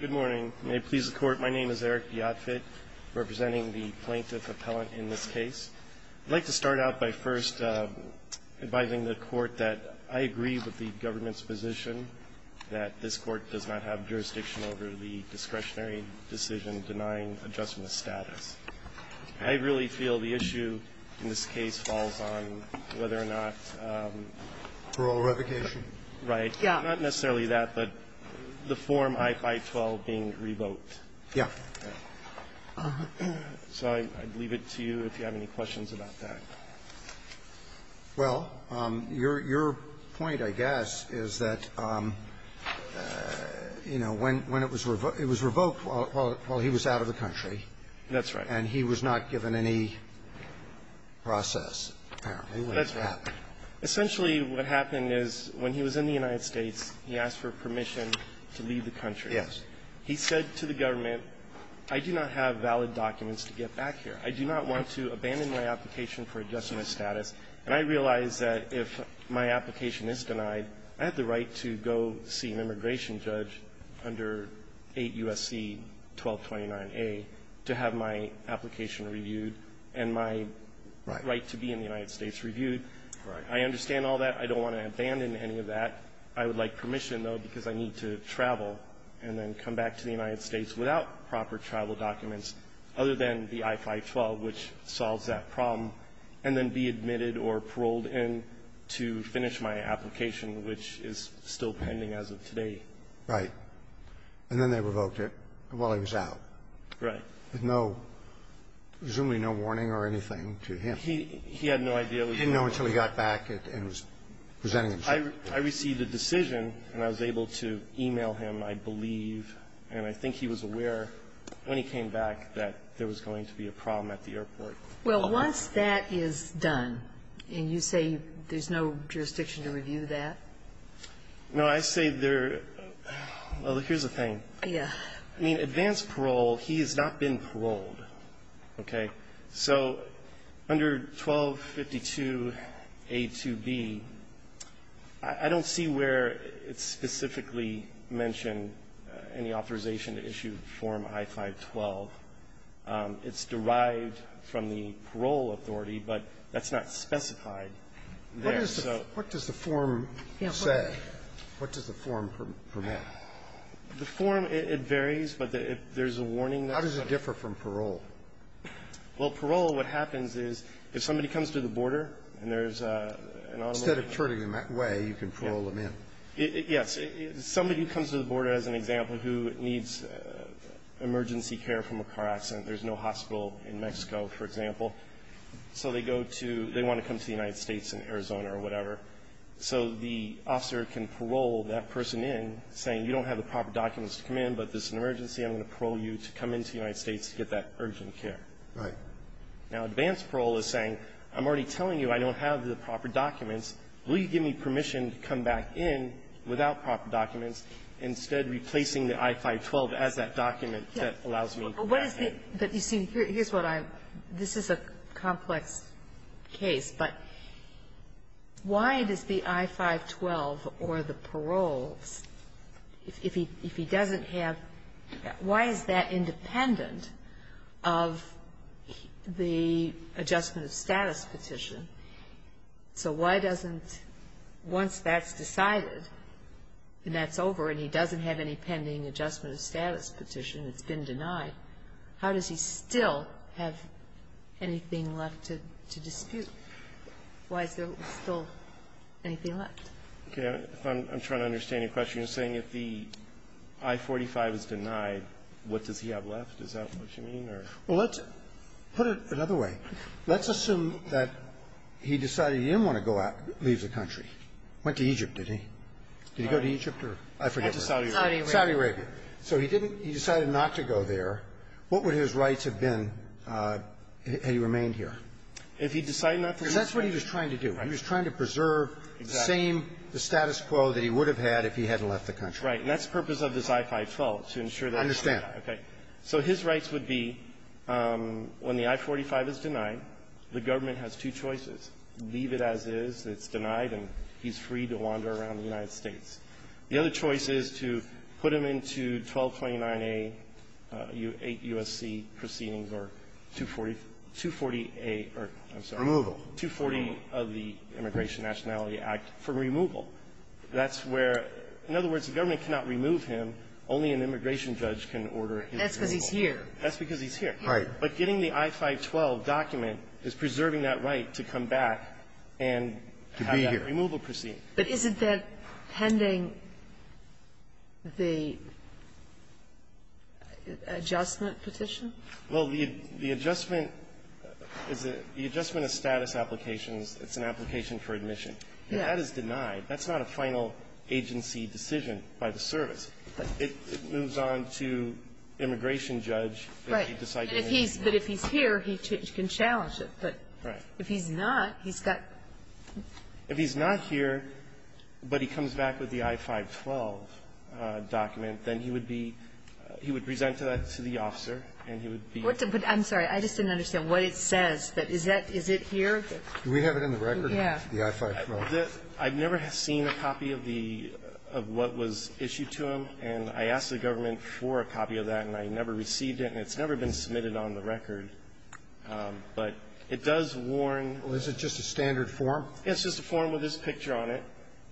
Good morning. May it please the Court, my name is Eric Biatfit, representing the plaintiff and I'm just advising the Court that I agree with the government's position that this Court does not have jurisdiction over the discretionary decision denying adjustment of status. I really feel the issue in this case falls on whether or not the Form I-512 being revoked. So I'd leave it to you if you have any questions about that. Well, your point, I guess, is that, you know, when it was revoked, it was revoked while he was out of the country. That's right. And he was not given any process, apparently. That's right. Essentially, what happened is when he was in the United States, he asked for permission to leave the country. Yes. He said to the government, I do not have valid documents to get back here. I do not want to abandon my application for adjustment of status. And I realize that if my application is denied, I have the right to go see an immigration judge under 8 U.S.C. 1229A to have my application reviewed and my right to be in the United States reviewed. Right. I understand all that. I don't want to abandon any of that. I would like permission, though, because I need to travel and then come back to the United States without proper travel documents other than the I-512, which solves that problem, and then be admitted or paroled in to finish my application, which is still pending as of today. Right. And then they revoked it while he was out. Right. With no, presumably no warning or anything to him. He had no idea. He didn't know until he got back and was presenting himself. I received a decision, and I was able to e-mail him, I believe, and I think he was aware when he came back that there was going to be a problem at the airport. Well, once that is done, and you say there's no jurisdiction to review that? No. I say there are other things. Yeah. I mean, advanced parole, he has not been paroled. Okay. So under 1252a2b, I don't see where it's specifically mentioned any authorization to issue Form I-512. It's derived from the parole authority, but that's not specified there. So what does the form say? What does the form promote? The form, it varies, but there's a warning that's there. How does it differ from parole? Well, parole, what happens is if somebody comes to the border and there's an on- Instead of turning them away, you can parole them in. Yes. Somebody who comes to the border, as an example, who needs emergency care from a car accident, there's no hospital in Mexico, for example, so they go to they want to come to the United States in Arizona or whatever, so the officer can parole that person in, saying you don't have the proper documents to come in, but there's an emergency, I'm going to parole you to come into the United States to get that urgent care. Right. Now, advanced parole is saying, I'm already telling you I don't have the proper documents. Will you give me permission to come back in without proper documents, instead replacing the I-512 as that document that allows me to come back in? But you see, here's what I'm this is a complex case, but why does the I-512 or the Why is that independent of the adjustment of status petition? So why doesn't, once that's decided and that's over and he doesn't have any pending adjustment of status petition, it's been denied, how does he still have anything left to dispute? Why is there still anything left? Okay. I'm trying to understand your question. You're saying if the I-45 is denied, what does he have left? Is that what you mean, or? Well, let's put it another way. Let's assume that he decided he didn't want to go out, leave the country. Went to Egypt, did he? Did he go to Egypt or? I forget. Went to Saudi Arabia. Saudi Arabia. So he didn't, he decided not to go there. What would his rights have been had he remained here? If he decided not to leave the country? Because that's what he was trying to do. Right. He was trying to preserve the same, the status quo that he would have had if he hadn't left the country. Right. And that's the purpose of this I-5 fault, to ensure that he didn't die. I understand. Okay. So his rights would be, when the I-45 is denied, the government has two choices. Leave it as is. It's denied, and he's free to wander around the United States. The other choice is to put him into 1229A, 8 U.S.C. proceedings or 240A or, I'm sorry. Removal. 240 of the Immigration Nationality Act for removal. That's where, in other words, the government cannot remove him. Only an immigration judge can order his removal. That's because he's here. That's because he's here. Right. But getting the I-512 document is preserving that right to come back and have that removal proceeding. But isn't that pending the adjustment petition? Well, the adjustment is a the adjustment of status applications. It's an application for admission. That is denied. That's not a final agency decision by the service. It moves on to immigration judge. And he's going to decide to remove him. But if he's here, he can challenge it. But if he's not, he's got If he's not here, but he comes back with the I-512 document, then he would be he would present that to the officer and he would be What the but I'm sorry. I just didn't understand what it says. But is that is it here? Do we have it in the record? Yeah. The I-512. I've never seen a copy of the of what was issued to him. And I asked the government for a copy of that, and I never received it. And it's never been submitted on the record. But it does warn. Well, is it just a standard form? It's just a form with his picture on it.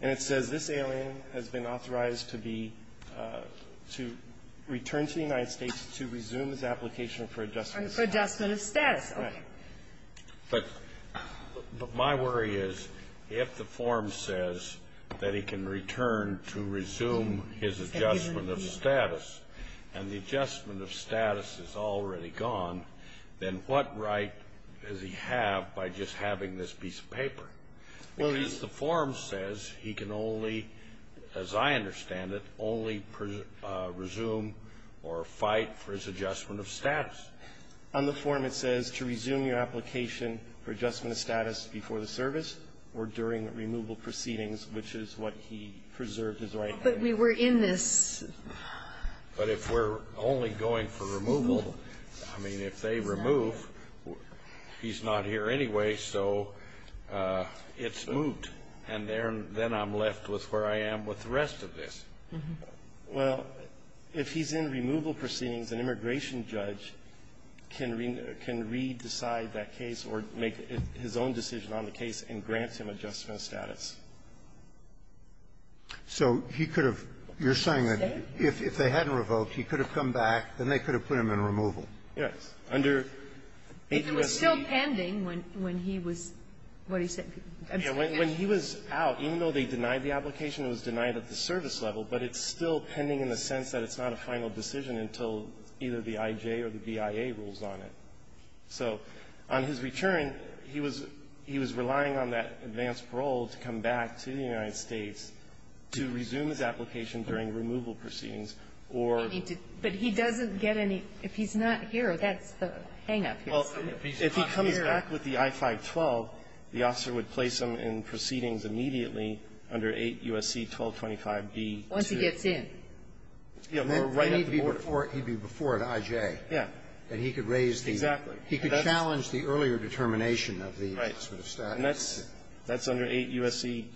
And it says this alien has been authorized to be to return to the United States to resume his application for adjustment of status. For adjustment of status. But my worry is if the form says that he can return to resume his adjustment of status, and the adjustment of status is already gone, then what right does he have by just having this piece of paper? Because the form says he can only, as I understand it, only resume or fight for his adjustment of status. On the form it says to resume your application for adjustment of status before the service or during removal proceedings, which is what he preserved his right But we were in this. But if we're only going for removal, I mean, if they remove, he's not here anymore. Anyway, so it's moved. And then I'm left with where I am with the rest of this. Well, if he's in removal proceedings, an immigration judge can re-decide that case or make his own decision on the case and grant him adjustment of status. So he could have you're saying that if they hadn't revoked, he could have come back. Then they could have put him in removal. Yes. Under APUSB But it was still pending when he was, what do you say, absconded? When he was out, even though they denied the application, it was denied at the service level, but it's still pending in the sense that it's not a final decision until either the I.J. or the BIA rules on it. So on his return, he was relying on that advanced parole to come back to the United States to resume his application during removal proceedings or But he doesn't get any. If he's not here, that's the hang-up. Well, if he's not here If he comes back with the I-512, the officer would place him in proceedings immediately under 8 U.S.C. 1225b-2. Once he gets in. Yeah, or right at the border. He'd be before at I.J. Yeah. And he could raise the Exactly. He could challenge the earlier determination of the adjustment of status. And that's under 8 U.S.C.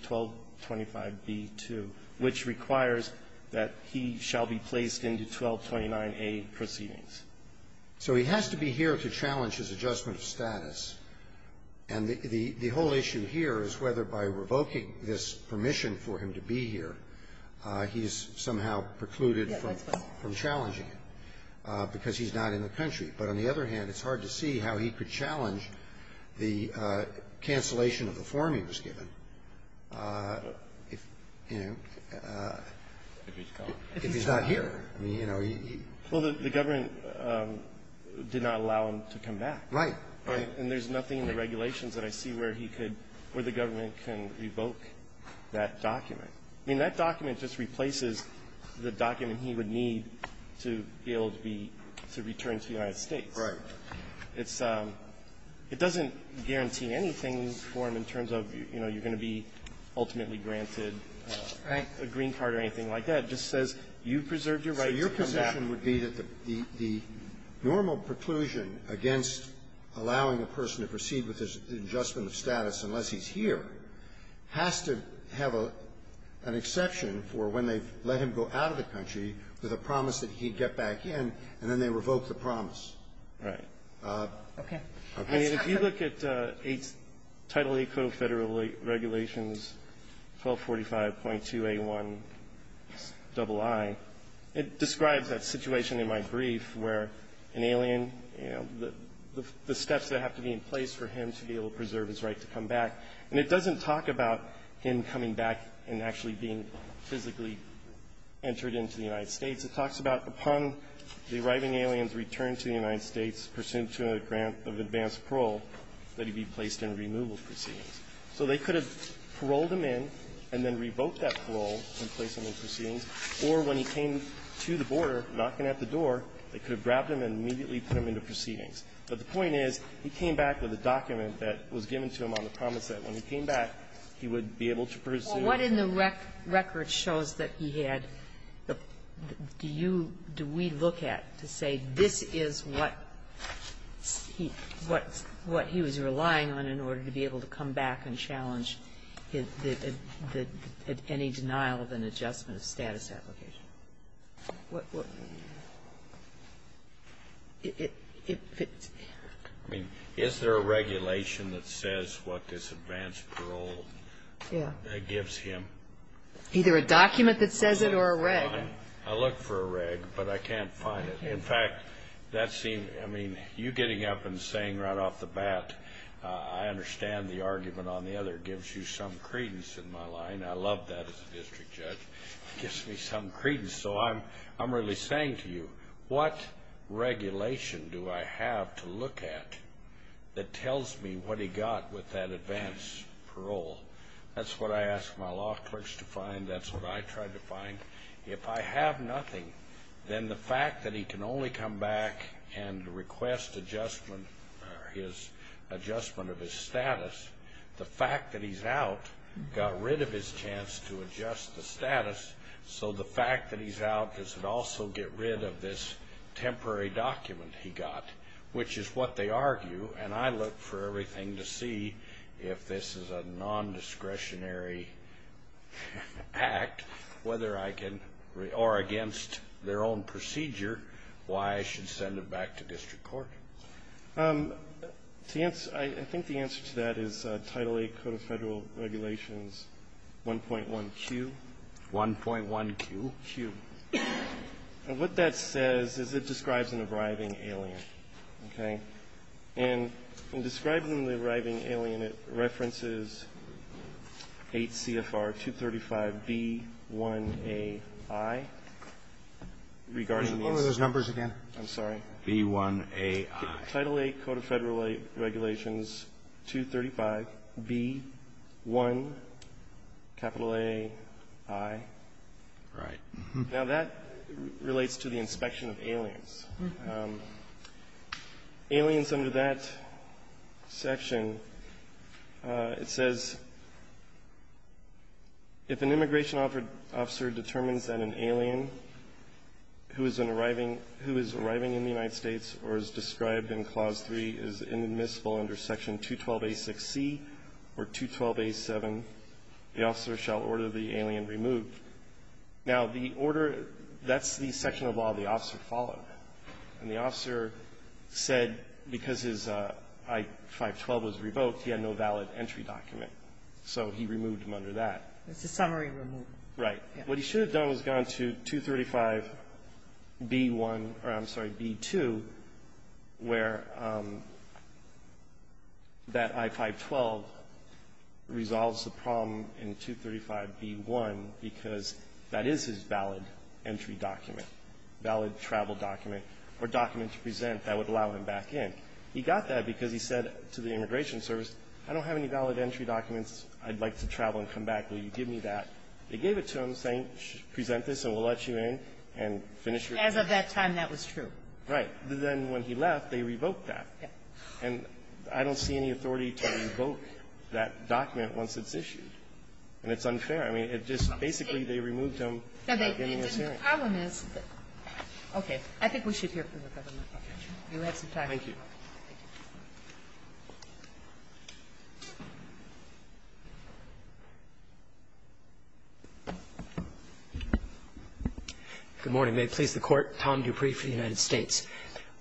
1225b-2, which requires that he shall be placed into 1229a proceedings. So he has to be here to challenge his adjustment of status. And the whole issue here is whether by revoking this permission for him to be here, he is somehow precluded from challenging it because he's not in the country. But on the other hand, it's hard to see how he could challenge the cancellation of the form he was given if, you know, if he's not here. I mean, you know, he Well, the government did not allow him to come back. Right. And there's nothing in the regulations that I see where he could, where the government can revoke that document. I mean, that document just replaces the document he would need to be able to be, to come back to the United States. Right. It's It doesn't guarantee anything for him in terms of, you know, you're going to be ultimately granted a green card or anything like that. It just says you preserved your right to come back. So your position would be that the normal preclusion against allowing a person to proceed with his adjustment of status unless he's here has to have an exception for when they let him go out of the country with a promise that he'd get back in, and then they revoke the promise. Right. Okay. If you look at Title VIII Code of Federal Regulations 1245.2a1ii, it describes that situation in my brief where an alien, you know, the steps that have to be in place for him to be able to preserve his right to come back, and it doesn't talk about him coming back and actually being physically entered into the United States. It talks about upon the arriving aliens return to the United States pursuant to a grant of advanced parole that he be placed in removal proceedings. So they could have paroled him in and then revoked that parole and placed him in proceedings, or when he came to the border, knocking at the door, they could have grabbed him and immediately put him into proceedings. But the point is, he came back with a document that was given to him on the promise that when he came back, he would be able to pursue. What in the record shows that he had the do you, do we look at to say this is what he, what he was relying on in order to be able to come back and challenge any denial of an adjustment of status application? What, what, it, it, it, I mean, is there a regulation that says what this advanced parole gives him? Either a document that says it or a reg. I look for a reg, but I can't find it. In fact, that seems, I mean, you getting up and saying right off the bat, I understand the argument on the other gives you some credence in my line. I love that as a district judge. Gives me some credence. So I'm, I'm really saying to you, what regulation do I have to look at that that's what I asked my law clerks to find. That's what I tried to find. If I have nothing, then the fact that he can only come back and request adjustment or his adjustment of his status, the fact that he's out, got rid of his chance to adjust the status. So the fact that he's out, does it also get rid of this temporary document he got, which is what they argue. And I look for everything to see if this is a non-discretionary act, whether I can, or against their own procedure, why I should send it back to district court. Um, I think the answer to that is a Title 8 Code of Federal Regulations 1.1Q. 1.1Q? Q. And what that says is it describes an arriving alien. Okay. And in describing the arriving alien, it references 8 CFR 235B1AI regarding those numbers again. I'm sorry. B1AI. Title 8 Code of Federal Regulations 235B1AI. Right. Now that relates to the inspection of aliens. Um, aliens under that section, uh, it says, if an immigration officer determines that an alien who is an arriving, who is arriving in the United States or is described in Clause 3 is inadmissible under Section 212A6C or 212A7, the officer shall order the alien removed. Now the order, that's the section of law the officer followed. And the officer said because his I-512 was revoked, he had no valid entry document. So he removed him under that. It's a summary removal. Right. What he should have done was gone to 235B1, or I'm sorry, B2, where that I-512 resolves the problem in 235B1 because that is his valid entry document, valid travel document, or document to present that would allow him back in. He got that because he said to the immigration service, I don't have any valid entry documents. I'd like to travel and come back. Will you give me that? They gave it to him saying, present this and we'll let you in and finish your. As of that time, that was true. Right. Then when he left, they revoked that. Yeah. And I don't see any authority to revoke that document once it's issued. And it's unfair. I mean, it just basically they removed him. Now, the problem is that – okay. I think we should hear from the government. You have some time. Thank you. Good morning. May it please the Court. Tom Dupree for the United States.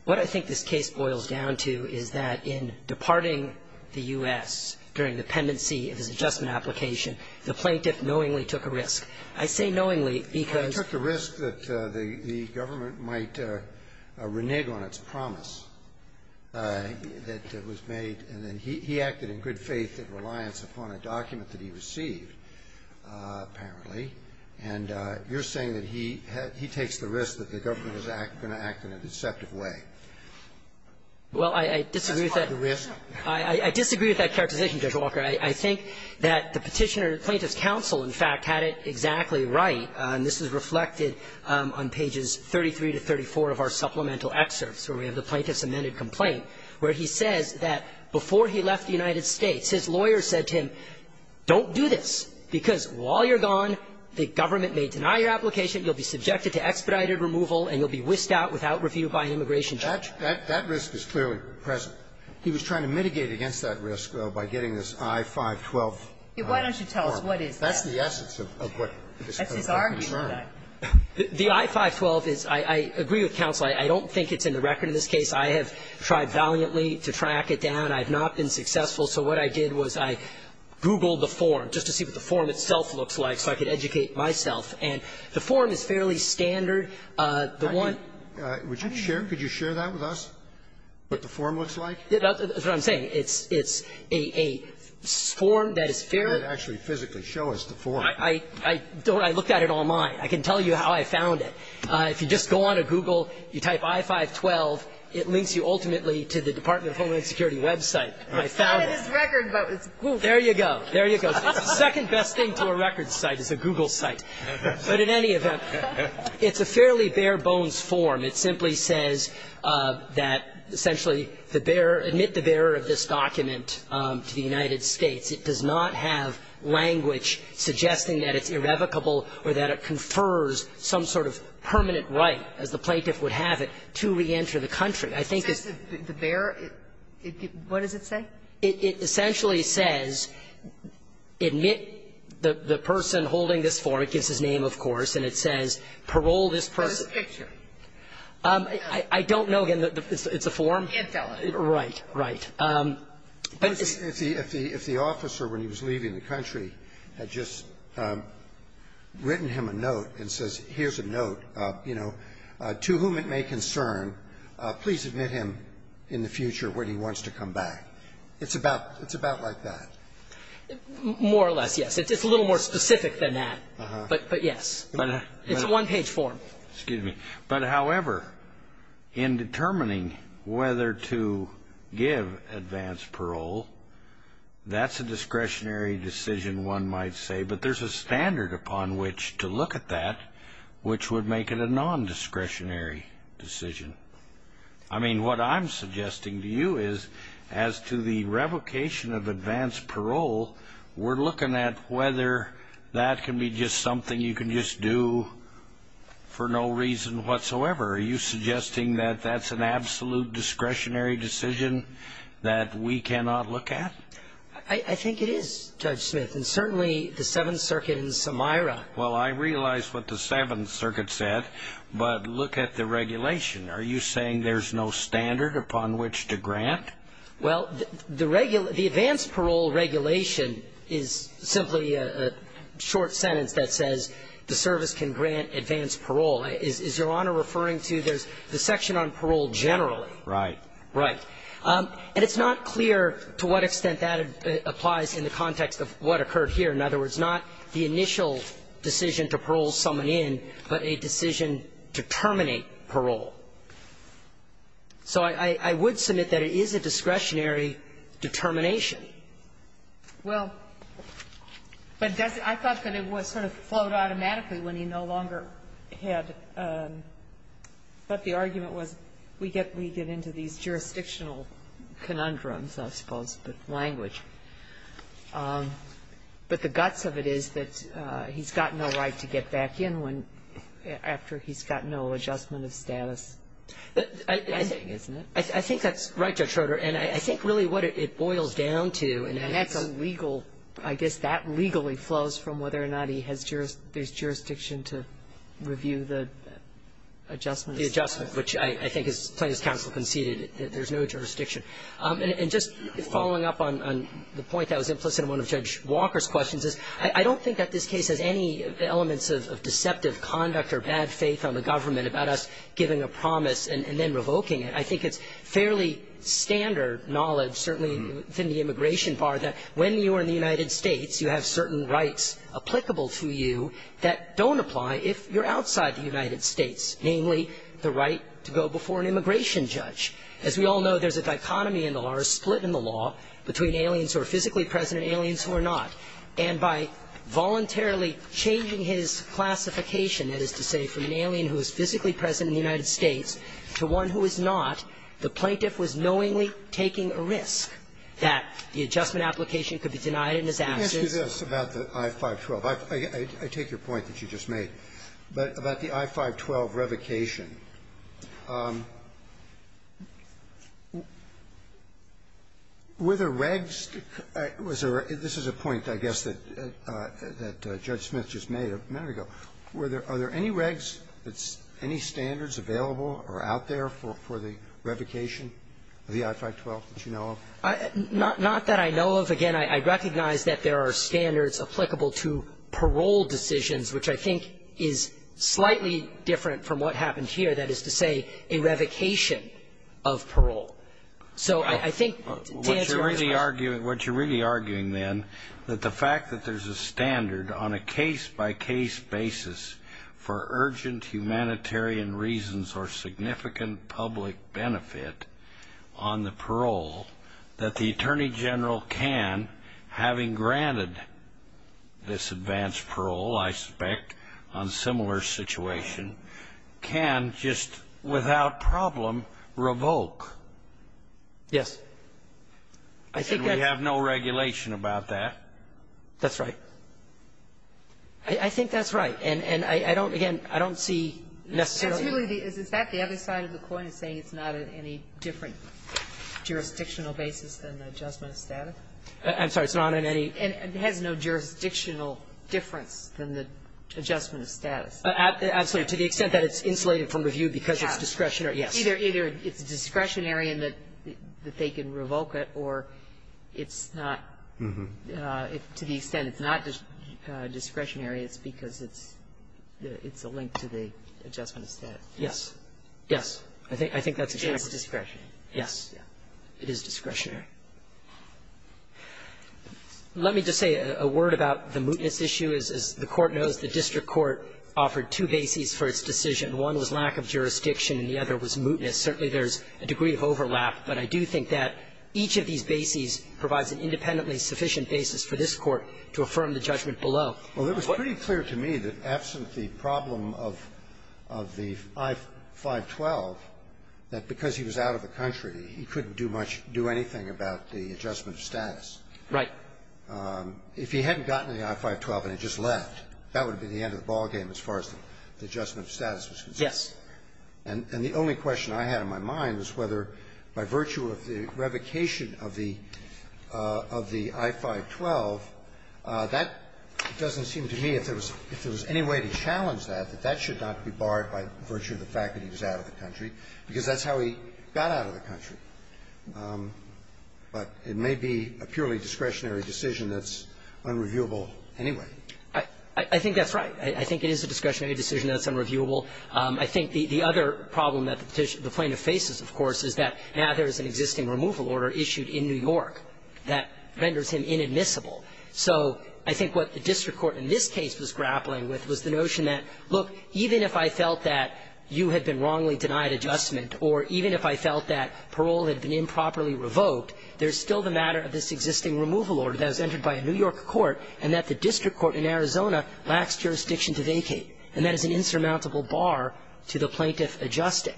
What I think this case boils down to is that in departing the U.S. during the pendency of his adjustment application, the plaintiff knowingly took a risk. I say knowingly because – He took the risk that the government might renege on its promise that was made. And then he acted in good faith and reliance upon a document that he received, apparently. And you're saying that he takes the risk that the government is going to act in a deceptive way. Well, I disagree with that. That's part of the risk. I disagree with that characterization, Judge Walker. I think that the Petitioner-Plaintiff's counsel, in fact, had it exactly right. And this is reflected on pages 33 to 34 of our supplemental excerpts where we have the plaintiff's amended complaint, where he says that before he left the United States, his lawyer said to him, don't do this, because while you're gone, the government may deny your application, you'll be subjected to expedited removal, and you'll be whisked out without review by an immigration judge. That risk is clearly present. He was trying to mitigate against that risk, though, by getting this I-512 form. Why don't you tell us what is that? That's the essence of what this case is concerned with. That's his argument. The I-512 is – I agree with counsel. I don't think it's in the record in this case. I have tried valiantly to track it down. I have not been successful. So what I did was I Googled the form just to see what the form itself looks like so I could educate myself. And the form is fairly standard. The one – Would you share – could you share that with us, what the form looks like? That's what I'm saying. It's a form that is fairly – Actually, physically show us the form. I looked at it online. I can tell you how I found it. If you just go onto Google, you type I-512, it links you ultimately to the Department of Homeland Security website. I found it. It's not in his record, but it's Google. There you go. There you go. The second best thing to a records site is a Google site. But in any event, it's a fairly bare-bones form. It simply says that essentially the bearer – admit the bearer of this document to the United States. It does not have language suggesting that it's irrevocable or that it confers some sort of permanent right, as the plaintiff would have it, to reenter the country. I think it's – It says the bearer – what does it say? It essentially says admit the person holding this form. It gives his name, of course, and it says parole this person. What's the picture? I don't know. Again, it's a form? The infill. Right, right. If the officer, when he was leaving the country, had just written him a note and says, here's a note, you know, to whom it may concern, please admit him in the future when he wants to come back. It's about – it's about like that. More or less, yes. It's a little more specific than that. But, yes, it's a one-page form. Excuse me. But, however, in determining whether to give advance parole, that's a discretionary decision, one might say. But there's a standard upon which to look at that, which would make it a non-discretionary decision. I mean, what I'm suggesting to you is, as to the revocation of advance parole, we're looking at whether that can be just something you can just do for no reason whatsoever. Are you suggesting that that's an absolute discretionary decision that we cannot look at? I think it is, Judge Smith, and certainly the Seventh Circuit in Samira. Well, I realize what the Seventh Circuit said, but look at the regulation. Are you saying there's no standard upon which to grant? Well, the advance parole regulation is simply a short sentence that says the service can grant advance parole. Is Your Honor referring to the section on parole generally? Right. Right. And it's not clear to what extent that applies in the context of what occurred here. In other words, not the initial decision to parole someone in, but a decision to terminate parole. So I would submit that it is a discretionary determination. Well, but I thought that it was sort of flowed automatically when he no longer had. But the argument was, we get into these jurisdictional conundrums, I suppose, with language. But the guts of it is that he's got no right to get back in when, after he's got no And I think that's a legal adjustment of status, I think, isn't it? I think that's right, Judge Schroeder, and I think really what it boils down to and that's a legal, I guess that legally flows from whether or not he has jurisdiction to review the adjustments. The adjustment, which I think, as plaintiff's counsel conceded, there's no jurisdiction. And just following up on the point that was implicit in one of Judge Walker's questions is, I don't think that this case has any elements of deceptive conduct or bad faith on the government about us giving a promise and then revoking it. I think it's fairly standard knowledge, certainly within the immigration bar, that when you are in the United States, you have certain rights applicable to you that don't apply if you're outside the United States. Namely, the right to go before an immigration judge. As we all know, there's a dichotomy in the law, a split in the law, between aliens who are physically present and aliens who are not. And by voluntarily changing his classification, that is to say, from an alien who is physically present in the United States to one who is not, the plaintiff was knowingly taking a risk that the adjustment application could be denied in his absence. Roberts. I take your point that you just made, but about the I-512 revocation, were there regs, this is a point, I guess, that Judge Smith just made a minute ago, were there any regs, any standards available or out there for the revocation of the I-512 that you know of? Not that I know of. Again, I recognize that there are standards applicable to parole decisions, which I think is slightly different from what happened here, that is to say, a revocation of parole. So I think to answer your question. What you're really arguing, then, that the fact that there's a standard on a case-by-case basis for urgent humanitarian reasons or significant public benefit on the parole that the Attorney General can, having granted this advanced parole, I suspect, on similar situation, can just without problem revoke. Yes. I think that's the case. We have no regulation about that. That's right. I think that's right. And I don't, again, I don't see necessarily the other side of the coin is saying it's not in any different jurisdictional basis than the adjustment of status? I'm sorry. It's not in any ---- It has no jurisdictional difference than the adjustment of status. Absolutely. To the extent that it's insulated from review because it's discretionary. Yes. Either it's discretionary and that they can revoke it, or it's not. To the extent it's not discretionary, it's because it's a link to the adjustment of status. Yes. Yes. I think that's the case. It's discretionary. Yes. It is discretionary. Let me just say a word about the mootness issue. As the Court knows, the district court offered two bases for its decision. One was lack of jurisdiction, and the other was mootness. Certainly there's a degree of overlap, but I do think that each of these bases provides an independently sufficient basis for this Court to affirm the judgment below. Well, it was pretty clear to me that absent the problem of the I-512, that because he was out of the country, he couldn't do much, do anything about the adjustment of status. Right. If he hadn't gotten the I-512 and he just left, that would have been the end of the ballgame as far as the adjustment of status was concerned. Yes. And the only question I had in my mind was whether by virtue of the revocation of the of the I-512, that doesn't seem to me if there was if there was any way to challenge that, that that should not be barred by virtue of the fact that he was out of the country, because that's how he got out of the country. But it may be a purely discretionary decision that's unreviewable anyway. I think that's right. I think it is a discretionary decision that's unreviewable. I think the other problem that the Plaintiff faces, of course, is that now there is an existing removal order issued in New York that renders him inadmissible. So I think what the district court in this case was grappling with was the notion that, look, even if I felt that you had been wrongly denied adjustment or even if I felt that parole had been improperly revoked, there's still the matter of this existing removal order that was entered by a New York court and that the district court in Arizona lacks jurisdiction to vacate, and that is an insurmountable bar to the Plaintiff adjusting.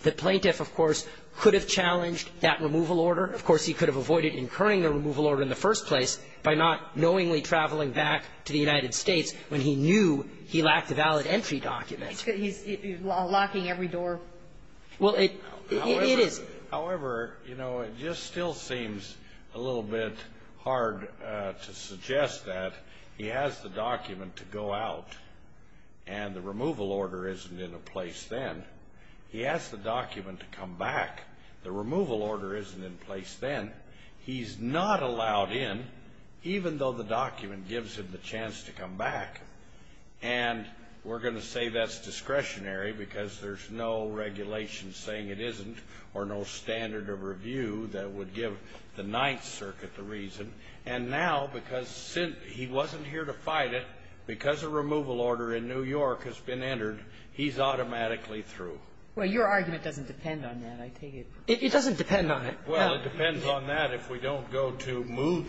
The Plaintiff, of course, could have challenged that removal order. Of course, he could have avoided incurring the removal order in the first place by not knowingly traveling back to the United States when he knew he lacked a valid entry document. It's because he's locking every door. Well, it is. However, you know, it just still seems a little bit hard to suggest that he has the document to come back. The removal order isn't in place then. He's not allowed in, even though the document gives him the chance to come back. And we're going to say that's discretionary because there's no regulation saying it isn't or no standard of review that would give the Ninth Circuit the reason. And now, because he wasn't here to fight it, because a removal order in New York has been entered, he's automatically through. Well, your argument doesn't depend on that, I take it. It doesn't depend on it. Well, it depends on that if we don't go to moot.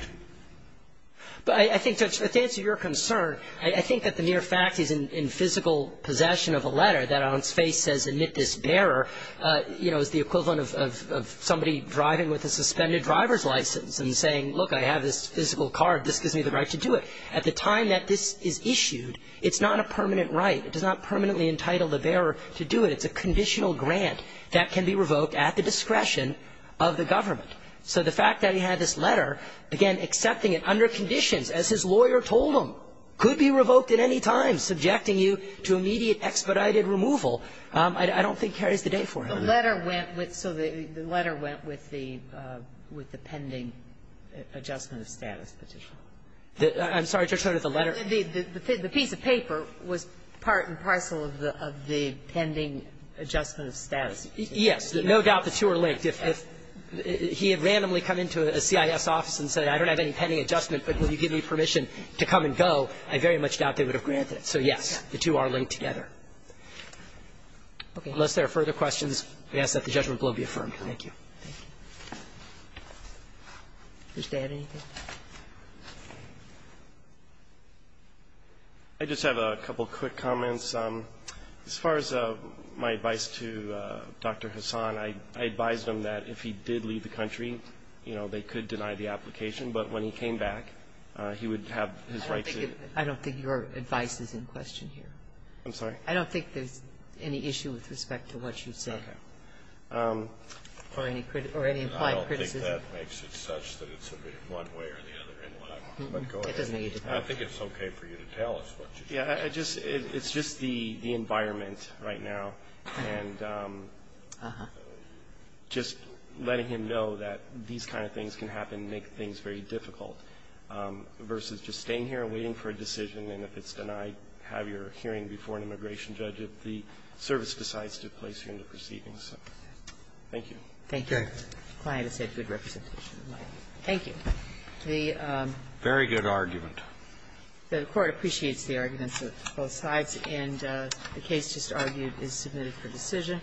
But I think, Judge, to answer your concern, I think that the mere fact he's in physical possession of a letter that on its face says, admit this bearer, you know, is the equivalent of somebody driving with a suspended driver's license and saying, look, I have this physical car. This gives me the right to do it. At the time that this is issued, it's not a permanent right. It does not permanently entitle the bearer to do it. It's a conditional grant that can be revoked at the discretion of the government. So the fact that he had this letter, again, accepting it under conditions, as his lawyer told him, could be revoked at any time, subjecting you to immediate expedited removal, I don't think carries the day for him. The letter went with the pending adjustment of status petition. I'm sorry, Judge, I don't know if the letter was part of the letter. It was part and parcel of the pending adjustment of status. Yes. No doubt the two are linked. If he had randomly come into a CIS office and said, I don't have any pending adjustment, but will you give me permission to come and go, I very much doubt they would have granted it. So, yes, the two are linked together. Unless there are further questions, I ask that the judgment blow be affirmed. Thank you. Thank you. Mr. Adany. I just have a couple of quick comments. As far as my advice to Dr. Hassan, I advised him that if he did leave the country, you know, they could deny the application. But when he came back, he would have his right to do it. I don't think your advice is in question here. I'm sorry? I don't think there's any issue with respect to what you said. Okay. Or any implied criticism. I don't think that makes it such that it's one way or the other in what I'm on. But go ahead. I think it's okay for you to tell us what you think. Yeah. It's just the environment right now, and just letting him know that these kind of things can happen, make things very difficult, versus just staying here and waiting for a decision, and if it's denied, have your hearing before an immigration judge if the service decides to place you into proceedings. Thank you. Thank you. The client has had good representation. Thank you. The Court appreciates the arguments of both sides, and the case just argued is submitted for decision.